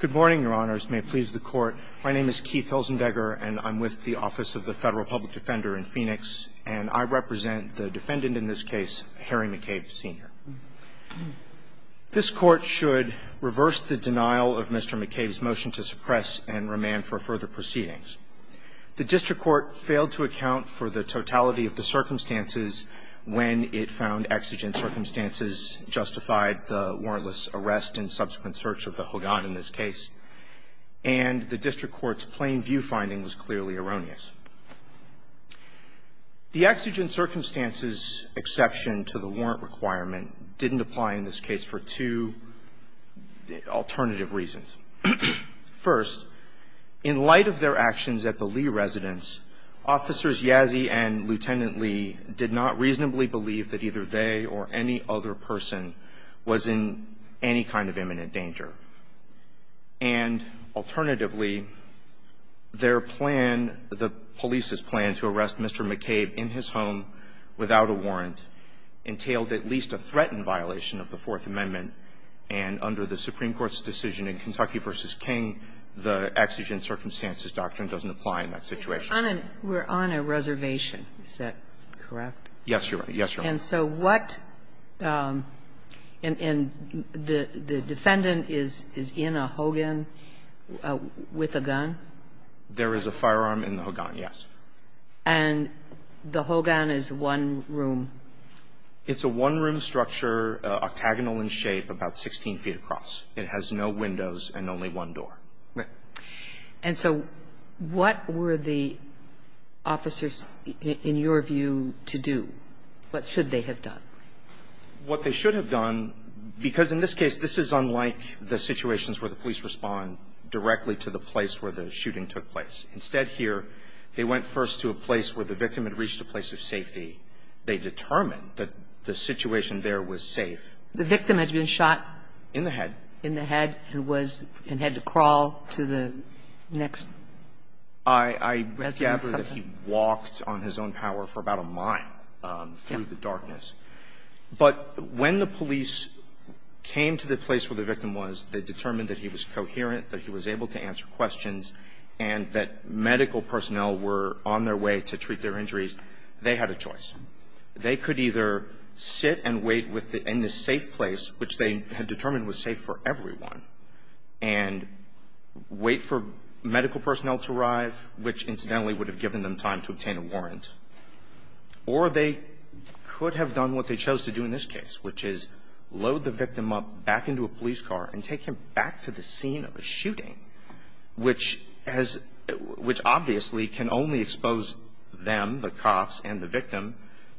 Good morning, Your Honors. May it please the Court, my name is Keith Hilzendegger and I'm with the Office of the Federal Public Defender in Phoenix, and I represent the defendant in this case, Harry McCabe, Sr. This Court should reverse the denial of Mr. McCabe's motion to suppress and remand for further proceedings. The district court failed to account for the totality of the circumstances when it found exigent circumstances justified the warrantless arrest in subsequent search of the Hogan in this case, and the district court's plain view finding was clearly erroneous. The exigent circumstances exception to the warrant requirement didn't apply in this case for two alternative reasons. First, in light of their actions at the Lee residence, Officers Yazzie and Lieutenant Lee did not reasonably believe that either they or any other person was in any kind of imminent danger. And alternatively, their plan, the police's plan, to arrest Mr. McCabe in his home without a warrant entailed at least a threatened violation of the Fourth Amendment, and under the Supreme Court's decision in Kentucky v. King, the exigent circumstances doctrine doesn't apply in that situation. We're on a reservation. Is that correct? Yes, Your Honor. Yes, Your Honor. And so what the defendant is in a Hogan with a gun? There is a firearm in the Hogan, yes. And the Hogan is one room? It's a one-room structure, octagonal in shape, about 16 feet across. It has no windows and only one door. And so what were the officers, in your view, to do? What should they have done? What they should have done, because in this case, this is unlike the situations where the police respond directly to the place where the shooting took place. Instead here, they went first to a place where the victim had reached a place of safety. They determined that the situation there was safe. The victim had been shot? In the head. In the head, and was and had to crawl to the next residence or something? I gather that he walked on his own power for about a mile through the darkness. But when the police came to the place where the victim was, they determined that he was coherent, that he was able to answer questions, and that medical personnel were on their way to treat their injuries, they had a choice. They could either sit and wait in the safe place, which they had determined was safe for everyone, and wait for medical personnel to arrive, which incidentally would have given them time to obtain a warrant, or they could have done what they chose to do in this case, which is load the victim up back into a police car and take him back to the scene of a shooting, which obviously can only expose them, the cops and the victim,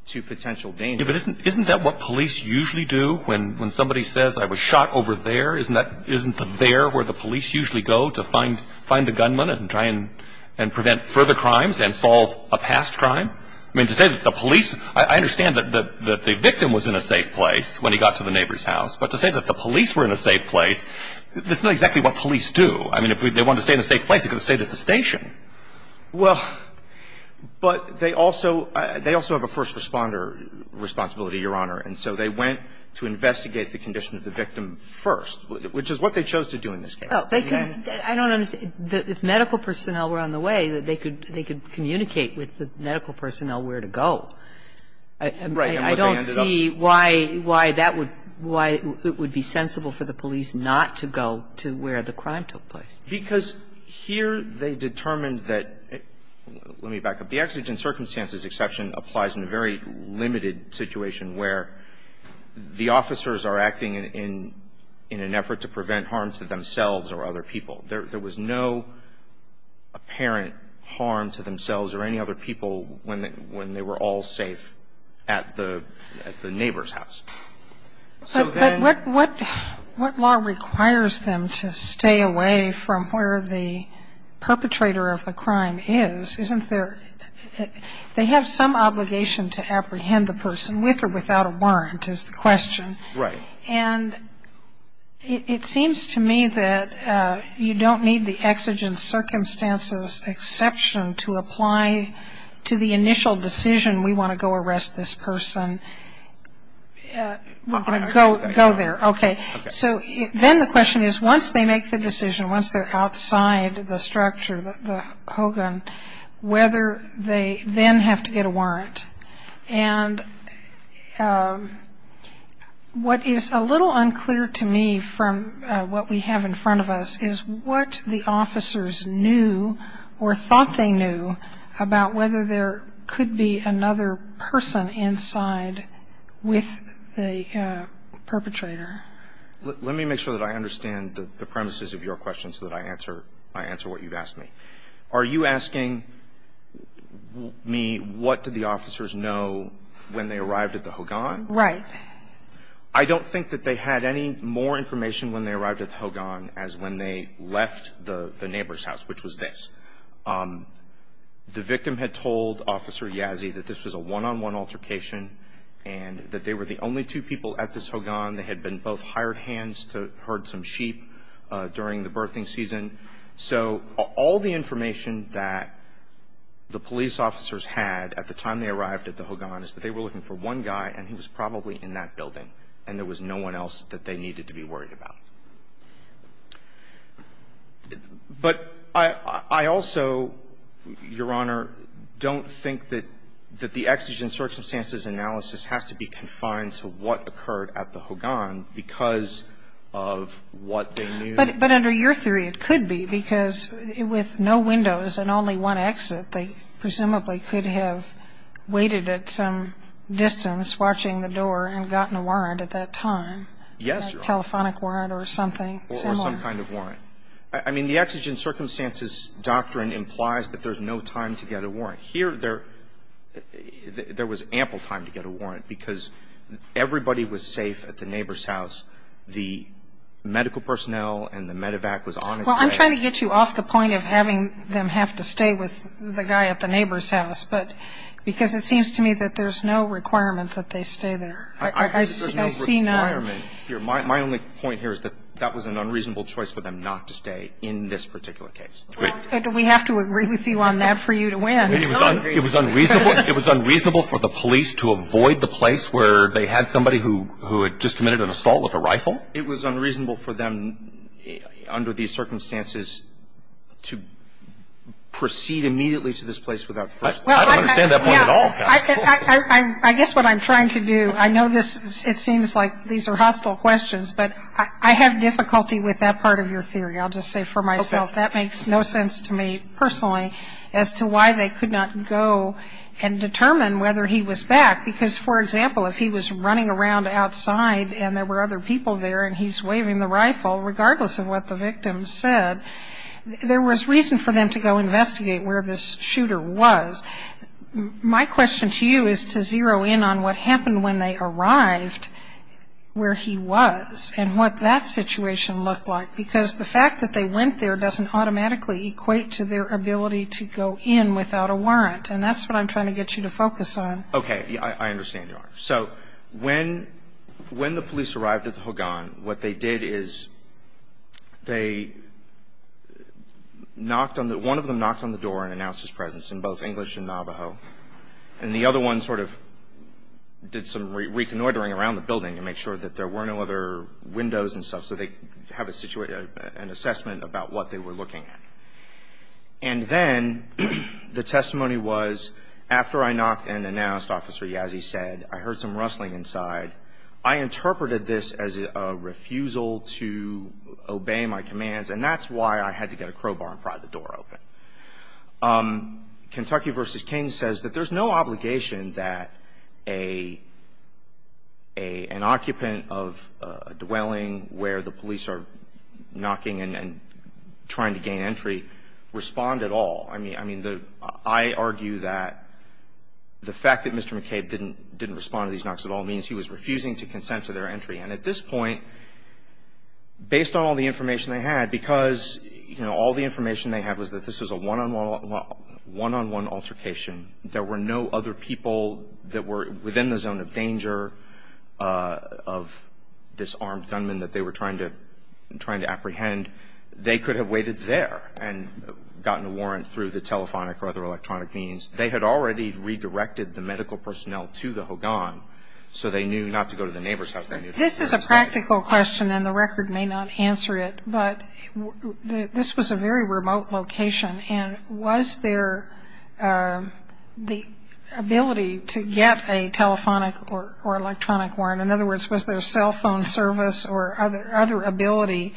to potential danger. Isn't that what police usually do when somebody says, I was shot over there? Isn't that, isn't the there where the police usually go to find the gunman and try and prevent further crimes and solve a past crime? I mean, to say that the police, I understand that the victim was in a safe place when he got to the neighbor's house. But to say that the police were in a safe place, that's not exactly what police do. I mean, if they wanted to stay in a safe place, they could have stayed at the station. Well, but they also, they also have a first responder responsibility, Your Honor, and so they went to investigate the condition of the victim first, which is what they chose to do in this case. I don't understand. If medical personnel were on the way, they could communicate with the medical personnel where to go. Right. And I don't see why that would, why it would be sensible for the police not to go to where the crime took place. Because here they determined that, let me back up. The exigent circumstances exception applies in a very limited situation where the officers are acting in, in an effort to prevent harm to themselves or other people. There was no apparent harm to themselves or any other people when they were all safe at the, at the neighbor's house. So then But what, what, what law requires them to stay away from where the perpetrator of the crime is? Isn't there, they have some obligation to apprehend the person with or without a warrant is the question. Right. And it, it seems to me that you don't need the exigent circumstances exception to apply to the initial decision, we want to go arrest this person. We're going to go, go there. Okay. So then the question is, once they make the decision, once they're outside the structure, the, the Hogan, whether they then have to get a warrant. And what is a little unclear to me from what we have in front of us is what the officers knew or thought they knew about whether there could be another person inside with the perpetrator. Let me make sure that I understand the, the premises of your question so that I answer, I answer what you've asked me. Are you asking me what did the officers know when they arrived at the Hogan? Right. I don't think that they had any more information when they arrived at the Hogan as when they left the, the neighbor's house, which was this. The victim had told Officer Yazzie that this was a one-on-one altercation. And that they were the only two people at this Hogan. They had been both hired hands to herd some sheep during the birthing season. So, all the information that the police officers had at the time they arrived at the Hogan is that they were looking for one guy, and he was probably in that building, and there was no one else that they needed to be worried about. But I, I also, Your Honor, don't think that, that the exigent circumstances analysis has to be confined to what occurred at the Hogan because of what they knew. But, but under your theory, it could be because with no windows and only one exit, they presumably could have waited at some distance watching the door and gotten a warrant at that time. Yes, Your Honor. A telephonic warrant or something similar. Or some kind of warrant. I mean, the exigent circumstances doctrine implies that there's no time to get a warrant. Here, there, there was ample time to get a warrant because everybody was safe at the neighbor's house. The medical personnel and the medevac was on its way. Well, I'm trying to get you off the point of having them have to stay with the guy at the neighbor's house. But, because it seems to me that there's no requirement that they stay there. I, I, I see no requirement here. My, my only point here is that that was an unreasonable choice for them not to stay in this particular case. Do we have to agree with you on that for you to win? It was unreasonable. It was unreasonable for the police to avoid the place where they had somebody who, who had just committed an assault with a rifle. It was unreasonable for them under these circumstances to proceed immediately to this place without first. I don't understand that point at all. I guess what I'm trying to do, I know this, it seems like these are hostile questions, but I, I have difficulty with that part of your theory. I'll just say for myself, that makes no sense to me personally as to why they could not go and determine whether he was back. Because, for example, if he was running around outside and there were other people there and he's waving the rifle, regardless of what the victim said, there was reason for them to go investigate where this shooter was. My question to you is to zero in on what happened when they arrived where he was and what that situation looked like. Because the fact that they went there doesn't automatically equate to their ability to go in without a warrant. And that's what I'm trying to get you to focus on. Okay. I, I understand, Your Honor. So when, when the police arrived at the Hogan, what they did is they knocked on the, one of them knocked on the door and announced his presence in both English and Navajo. And the other one sort of did some reconnoitering around the building to make sure that there were no other windows and stuff. So they have a situation, an assessment about what they were looking at. And then, the testimony was, after I knocked and announced, Officer Yazzie said, I heard some rustling inside. I interpreted this as a refusal to obey my commands. And that's why I had to get a crowbar and pry the door open. Kentucky v. King says that there's no obligation that an occupant of a dwelling where the police are knocking and, and trying to gain entry respond at all. I mean, I mean, the, I argue that the fact that Mr. McCabe didn't, didn't respond to these knocks at all means he was refusing to consent to their entry. And at this point, based on all the information they had, because, you know, all the information they had was that this was a one on one, one on one altercation. There were no other people that were within the zone of danger of this armed gunman that they were trying to, trying to apprehend. They could have waited there and gotten a warrant through the telephonic or other electronic means. They had already redirected the medical personnel to the Hogan. So they knew not to go to the neighbor's house. This is a practical question and the record may not answer it, but this was a very remote location and was there the ability to get a telephonic or electronic warrant? In other words, was there cell phone service or other, other ability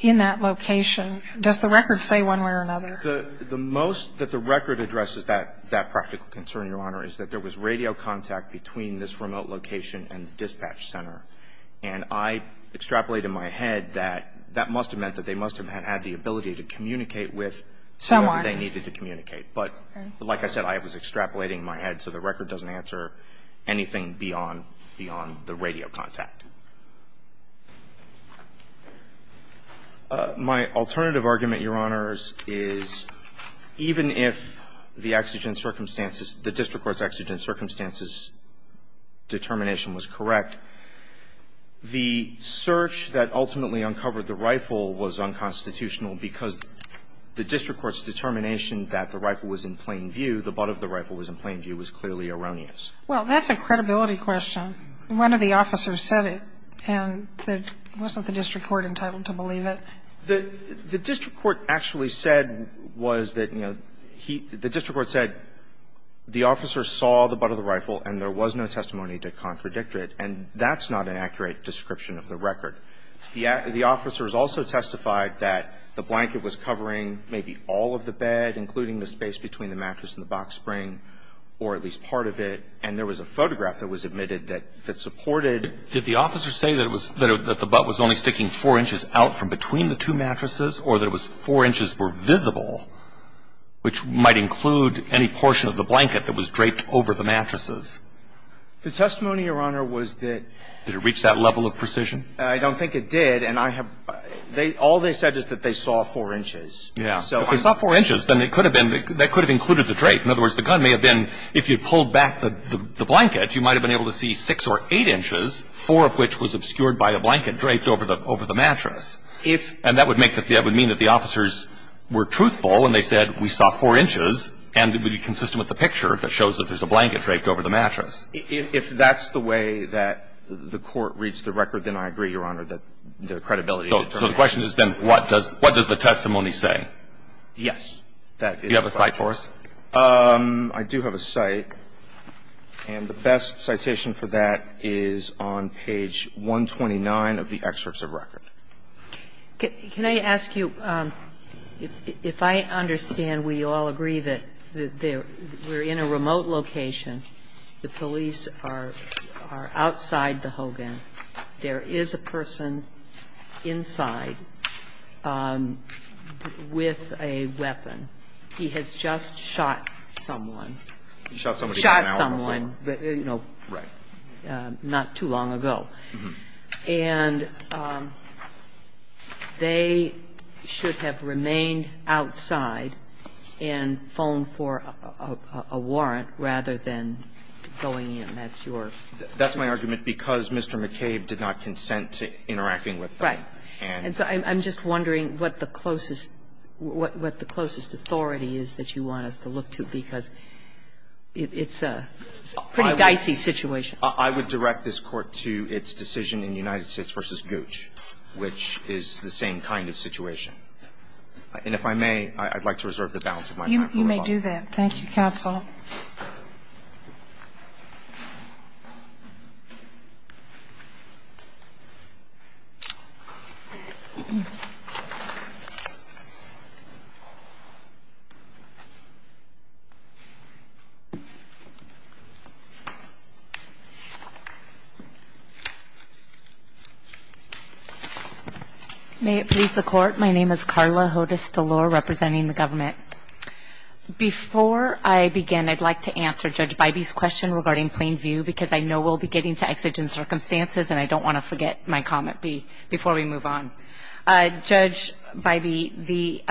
in that location? Does the record say one way or another? The, the most that the record addresses that, that practical concern, Your Honor, is that there was radio contact between this remote location and the dispatch center. And I extrapolated in my head that that must have meant that they must have had the ability to communicate with someone they needed to communicate. But like I said, I was extrapolating in my head, so the record doesn't answer anything beyond, beyond the radio contact. My alternative argument, Your Honors, is even if the exigent circumstances, the district court's exigent circumstances determination was correct, the search that ultimately uncovered the rifle was unconstitutional because the district court's determination that the rifle was in plain view, the butt of the rifle was in plain view, was clearly erroneous. Well, that's a credibility question. One of the officers said it and wasn't the district court entitled to believe it? The, the district court actually said was that, you know, he, the district court said the officer saw the butt of the rifle and there was no testimony to contradict it. And that's not an accurate description of the record. The, the officers also testified that the blanket was covering maybe all of the bed, including the space between the mattress and the box spring, or at least part of it. And there was a photograph that was admitted that, that supported. Did the officer say that it was, that it, that the butt was only sticking four inches out from between the two mattresses, or that it was four inches were visible? Which might include any portion of the blanket that was draped over the mattresses. The testimony, Your Honor, was that. Did it reach that level of precision? I don't think it did. And I have, they, all they said is that they saw four inches. Yeah. So. If they saw four inches, then it could have been, that could have included the drape. In other words, the gun may have been, if you pulled back the, the, the blanket, you might have been able to see six or eight inches, four of which was obscured by a blanket draped over the, over the mattress. If. And that would make, that would mean that the officers were truthful, and they said we saw four inches, and it would be consistent with the picture that shows that there's a blanket draped over the mattress. If, if that's the way that the Court reads the record, then I agree, Your Honor, that the credibility of the testimony. So the question has been, what does, what does the testimony say? Yes. That is. Do you have a cite for us? I do have a cite. And the best citation for that is on page 129 of the excerpts of record. Can I ask you, if I understand, we all agree that there, we're in a remote location. The police are, are outside the Hogan. There is a person inside with a weapon. He has just shot someone. Shot someone. Shot someone. Right. Not too long ago. And they should have remained outside and phoned for a, a warrant rather than going in. That's your. That's my argument, because Mr. McCabe did not consent to interacting with them. Right. And so I'm, I'm just wondering what the closest, what, what the closest authority is that you want us to look to, because it, it's a pretty dicey situation. I would direct this Court to its decision in United States v. Gooch, which is the same kind of situation. And if I may, I'd like to reserve the balance of my time. You may do that. Thank you, counsel. May it please the Court. My name is Karla Hodes-Delore, representing the government. Before I begin, I'd like to answer Judge Bybee's question regarding plain view, because I know we'll be getting to exigent circumstances, and I don't want to forget my comment before we move on. Judge Bybee, the,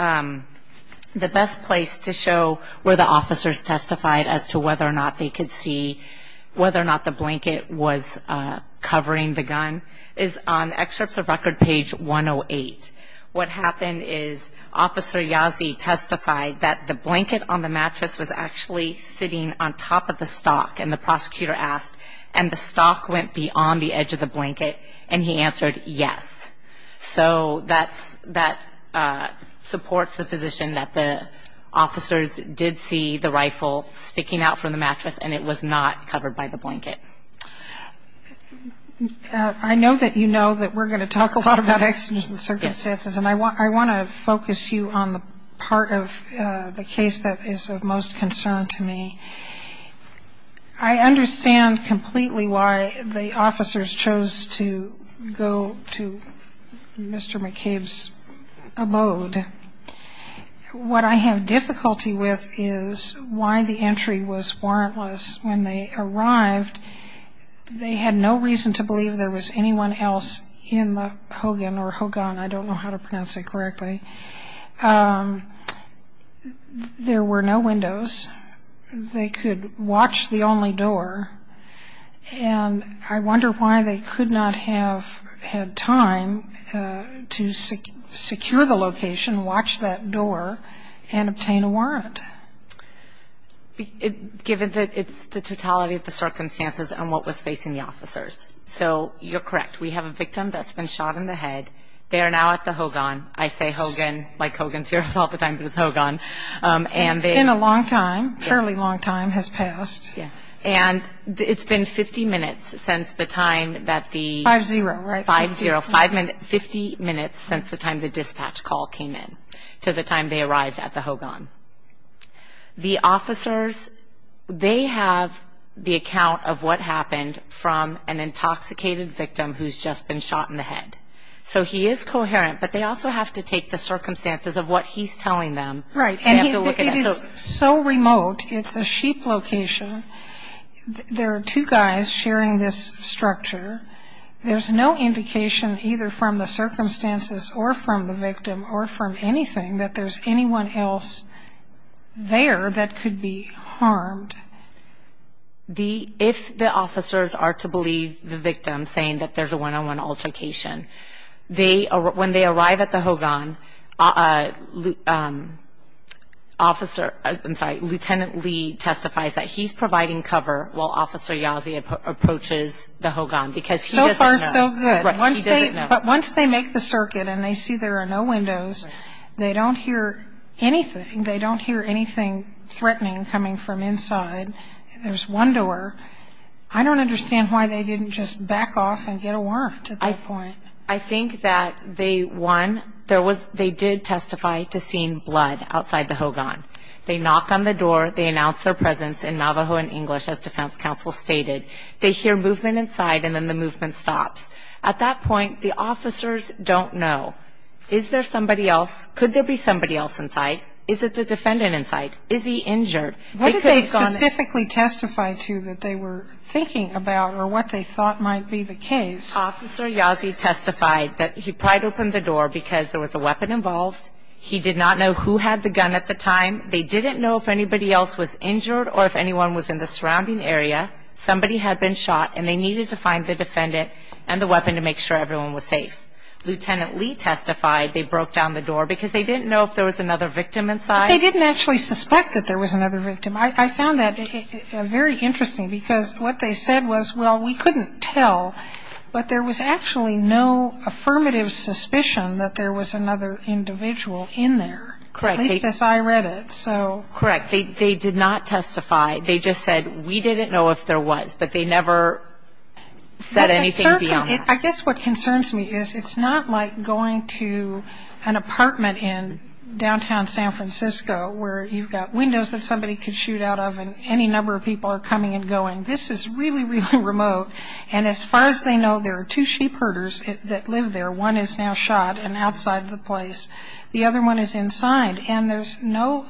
the best place to show where the officers testified as to whether or not they could see whether or not the blanket was covering the gun is on excerpts of record page 108. What happened is Officer Yazzie testified that the blanket on the mattress was actually sitting on top of the stock, and the prosecutor asked, and the stock went beyond the edge of the blanket, and he answered yes. So that's, that supports the position that the officers did see the rifle sticking out from the mattress, and it was not covered by the blanket. I know that you know that we're going to talk a lot about exigent circumstances, and I want, I want to focus you on the part of the case that is of most concern to me. I understand completely why the officers chose to go to Mr. McCabe's abode. And what I have difficulty with is why the entry was warrantless. When they arrived, they had no reason to believe there was anyone else in the Hogan, or Hogan, I don't know how to pronounce it correctly. There were no windows. They could watch the only door, and I wonder why they could not have had time to secure the location, watch that door, and obtain a warrant. Given that it's the totality of the circumstances and what was facing the officers. So you're correct. We have a victim that's been shot in the head. They are now at the Hogan. I say Hogan, like Hogan's here all the time, but it's Hogan. And it's been a long time, a fairly long time has passed. And it's been 50 minutes since the time that the 5-0, 5-0, 5 minutes, 50 minutes since the time the dispatch call came in, to the time they arrived at the Hogan. The officers, they have the account of what happened from an intoxicated victim who's just been shot in the head. So he is coherent, but they also have to take the circumstances of what he's telling them. Right. And it is so remote. It's a sheep location. There are two guys sharing this structure. There's no indication either from the circumstances or from the victim or from anything that there's anyone else there that could be harmed. If the officers are to believe the victim saying that there's a one-on-one altercation, when they arrive at the Hogan, Lieutenant Lee testifies that he's providing cover while So far, so good. Right. He doesn't know. But once they make the circuit and they see there are no windows, they don't hear anything. They don't hear anything threatening coming from inside. There's one door. I don't understand why they didn't just back off and get a warrant at that point. I think that they, one, they did testify to seeing blood outside the Hogan. They knock on the door. They announce their presence in Navajo and English, as defense counsel stated. They hear movement inside and then the movement stops. At that point, the officers don't know. Is there somebody else? Could there be somebody else inside? Is it the defendant inside? Is he injured? What did they specifically testify to that they were thinking about or what they thought might be the case? Officer Yazzie testified that he pried open the door because there was a weapon involved. He did not know who had the gun at the time. They didn't know if anybody else was injured or if anyone was in the surrounding area. Somebody had been shot and they needed to find the defendant and the weapon to make sure everyone was safe. Lieutenant Lee testified they broke down the door because they didn't know if there was another victim inside. But they didn't actually suspect that there was another victim. I found that very interesting because what they said was, well, we couldn't tell, but there was actually no affirmative suspicion that there was another individual in there. Correct. At least as I read it. So... Correct. They did not testify. They just said, we didn't know if there was, but they never said anything beyond that. I guess what concerns me is it's not like going to an apartment in downtown San Francisco where you've got windows that somebody could shoot out of and any number of people are coming and going. This is really, really remote. And as far as they know, there are two sheep herders that live there. One is now shot and outside the place. The other one is inside. And there's no,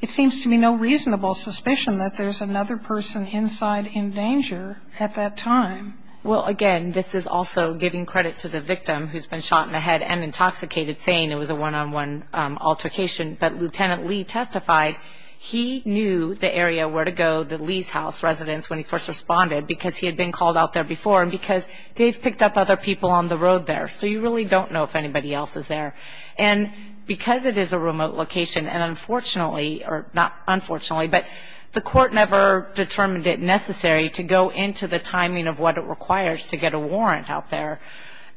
it seems to be no reasonable suspicion that there's another person inside in danger at that time. Well, again, this is also giving credit to the victim who's been shot in the head and intoxicated saying it was a one-on-one altercation. But Lieutenant Lee testified he knew the area where to go, the Lee's house residence, when he first responded because he had been called out there before and because they've picked up other people on the road there. So you really don't know if anybody else is there. And because it is a remote location, and unfortunately, or not unfortunately, but the court never determined it necessary to go into the timing of what it requires to get a warrant out there.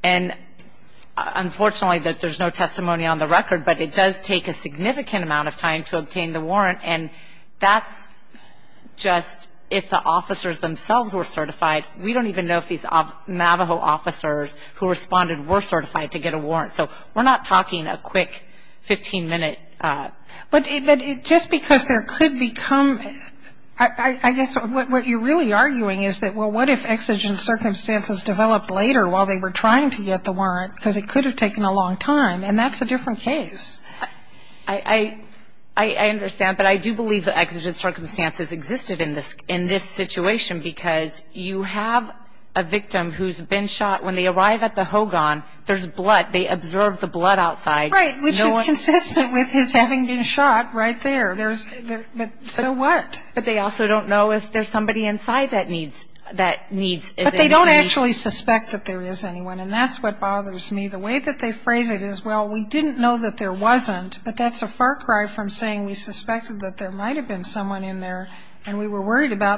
And unfortunately, there's no testimony on the record, but it does take a significant amount of time to obtain the warrant. And that's just if the officers themselves were certified. We don't even know if these Navajo officers who responded were certified to get a warrant. So we're not talking a quick 15-minute. But just because there could become, I guess what you're really arguing is that, well, what if exigent circumstances developed later while they were trying to get the warrant? Because it could have taken a long time, and that's a different case. I understand, but I do believe that exigent circumstances existed in this situation because you have a victim who's been shot. When they arrive at the Hogan, there's blood. They observe the blood outside. Right, which is consistent with his having been shot right there. So what? But they also don't know if there's somebody inside that needs, is in need. But they don't actually suspect that there is anyone, and that's what bothers me. The way that they phrase it is, well, we didn't know that there wasn't, but that's a far cry about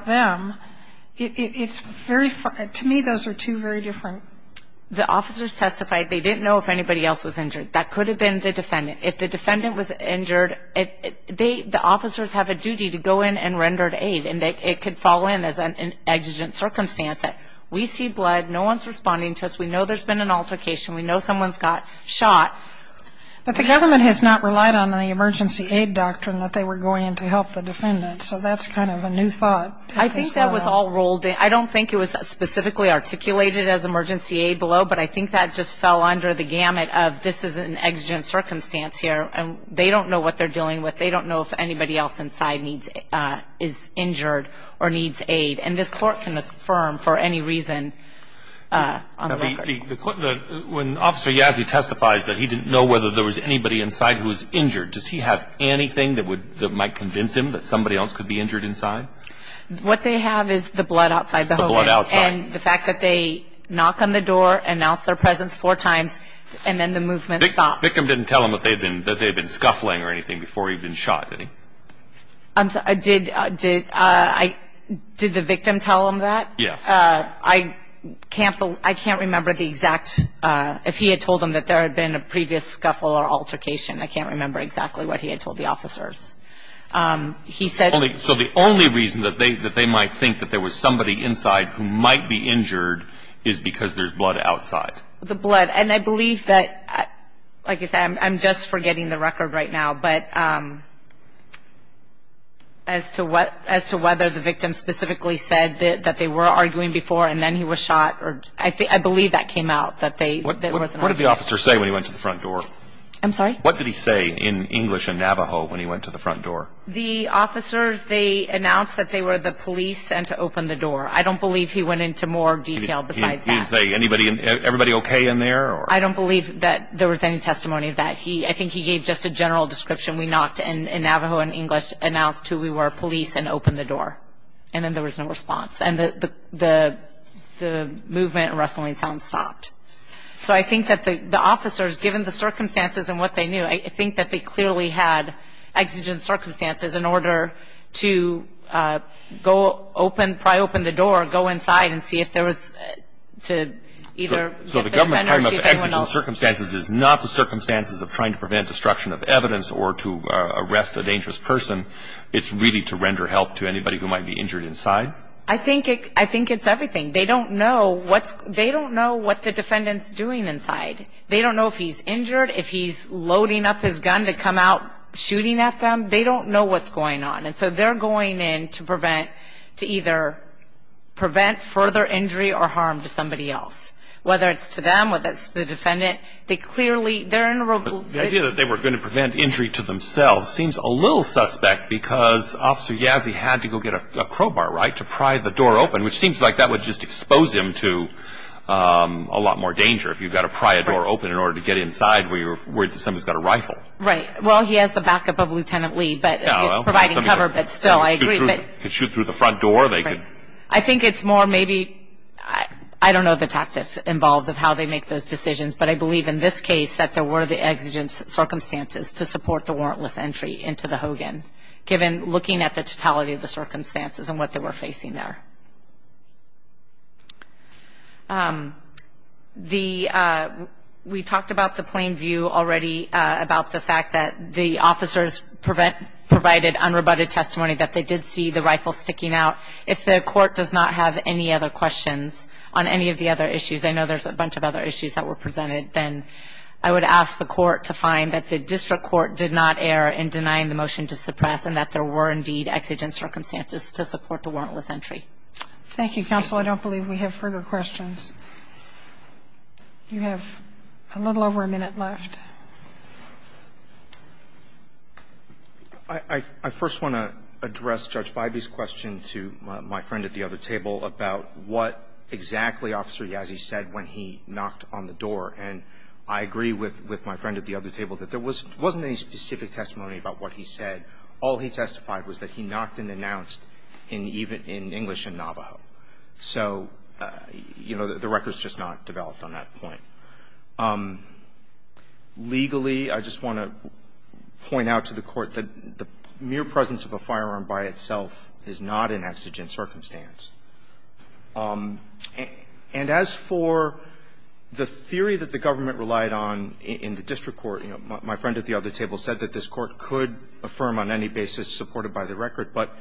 them. It's very, to me, those are two very different. The officers testified they didn't know if anybody else was injured. That could have been the defendant. If the defendant was injured, the officers have a duty to go in and render aid, and it could fall in as an exigent circumstance. We see blood. No one's responding to us. We know there's been an altercation. We know someone's got shot. But the government has not relied on the emergency aid doctrine that they were going in to help the defendant. So that's kind of a new thought. I think that was all rolled in. I don't think it was specifically articulated as emergency aid below, but I think that just fell under the gamut of this is an exigent circumstance here, and they don't know what they're dealing with. They don't know if anybody else inside is injured or needs aid. And this Court can affirm for any reason on the record. When Officer Yazzie testifies that he didn't know whether there was anybody inside who else could be injured inside? What they have is the blood outside the home. And the fact that they knock on the door, announce their presence four times, and then the movement stops. The victim didn't tell him that they had been scuffling or anything before he'd been shot, did he? Did the victim tell him that? Yes. I can't remember the exact, if he had told him that there had been a previous scuffle or altercation. I can't remember exactly what he had told the officers. So the only reason that they might think that there was somebody inside who might be injured is because there's blood outside? The blood. And I believe that, like I said, I'm just forgetting the record right now, but as to whether the victim specifically said that they were arguing before and then he was shot. I believe that came out, that there was an argument. What did the officer say when he went to the front door? I'm sorry? What did he say in English and Navajo when he went to the front door? The officers, they announced that they were the police and to open the door. I don't believe he went into more detail besides that. Did he say, everybody okay in there? I don't believe that there was any testimony of that. I think he gave just a general description. We knocked and Navajo and English announced who we were, police, and opened the door. And then there was no response. And the movement and rustling sounds stopped. So I think that the officers, given the circumstances and what they knew, I think that they clearly had exigent circumstances in order to go open, pry open the door, go inside and see if there was to either defend or see if anyone else. So the government's talking about exigent circumstances is not the circumstances of trying to prevent destruction of evidence or to arrest a dangerous person. It's really to render help to anybody who might be injured inside? I think it's everything. They don't know what the defendant's doing inside. They don't know if he's injured, if he's loading up his gun to come out shooting at them. They don't know what's going on. And so they're going in to either prevent further injury or harm to somebody else. Whether it's to them, whether it's the defendant, they clearly, they're in a real good... The idea that they were going to prevent injury to themselves seems a little suspect because Officer Yazzie had to go get a crowbar, right, to pry the door open, which seems like that would just expose him to a lot more danger if you've got to pry a door open in order to get inside where you're worried that somebody's got a rifle. Right. Well, he has the backup of Lieutenant Lee, but providing cover, but still, I agree. Could shoot through the front door. I think it's more maybe, I don't know the tactics involved of how they make those decisions, but I believe in this case that there were the exigent circumstances to support the warrantless entry into the Hogan, given looking at the totality of the circumstances and what they were facing there. We talked about the plain view already about the fact that the officers provided unrebutted testimony that they did see the rifle sticking out. If the court does not have any other questions on any of the other issues, I know there's a bunch of other issues that were presented, then I would ask the court to find that the district court did not err in denying the motion to suppress and that there were indeed exigent circumstances to support the warrantless entry. Thank you, counsel. I don't believe we have further questions. You have a little over a minute left. I first want to address Judge Bybee's question to my friend at the other table about what exactly Officer Yazzie said when he knocked on the door, and I agree with my friend at the other table that there wasn't any specific testimony about what he said. All he testified was that he knocked and announced in English in Navajo. So, you know, the record's just not developed on that point. Legally, I just want to point out to the court that the mere presence of a firearm by itself is not an exigent circumstance. And as for the theory that the government relied on in the district court, you know, my friend at the other table said that this court could affirm on any basis supported by the record. But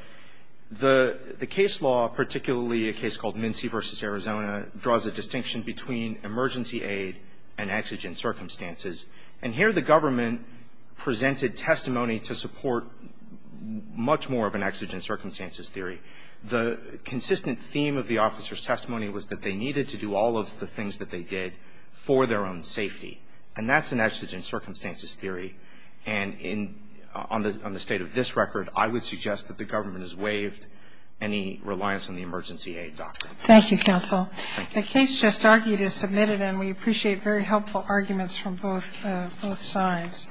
the case law, particularly a case called Mincy v. Arizona, draws a distinction between emergency aid and exigent circumstances. And here the government presented testimony to support much more of an exigent circumstances theory. The consistent theme of the officer's testimony was that they needed to do all of the things that they did for their own safety. And that's an exigent circumstances theory. And on the state of this record, I would suggest that the government has waived any reliance on the emergency aid doctrine. Thank you, counsel. The case just argued is submitted, and we appreciate very helpful arguments from both sides.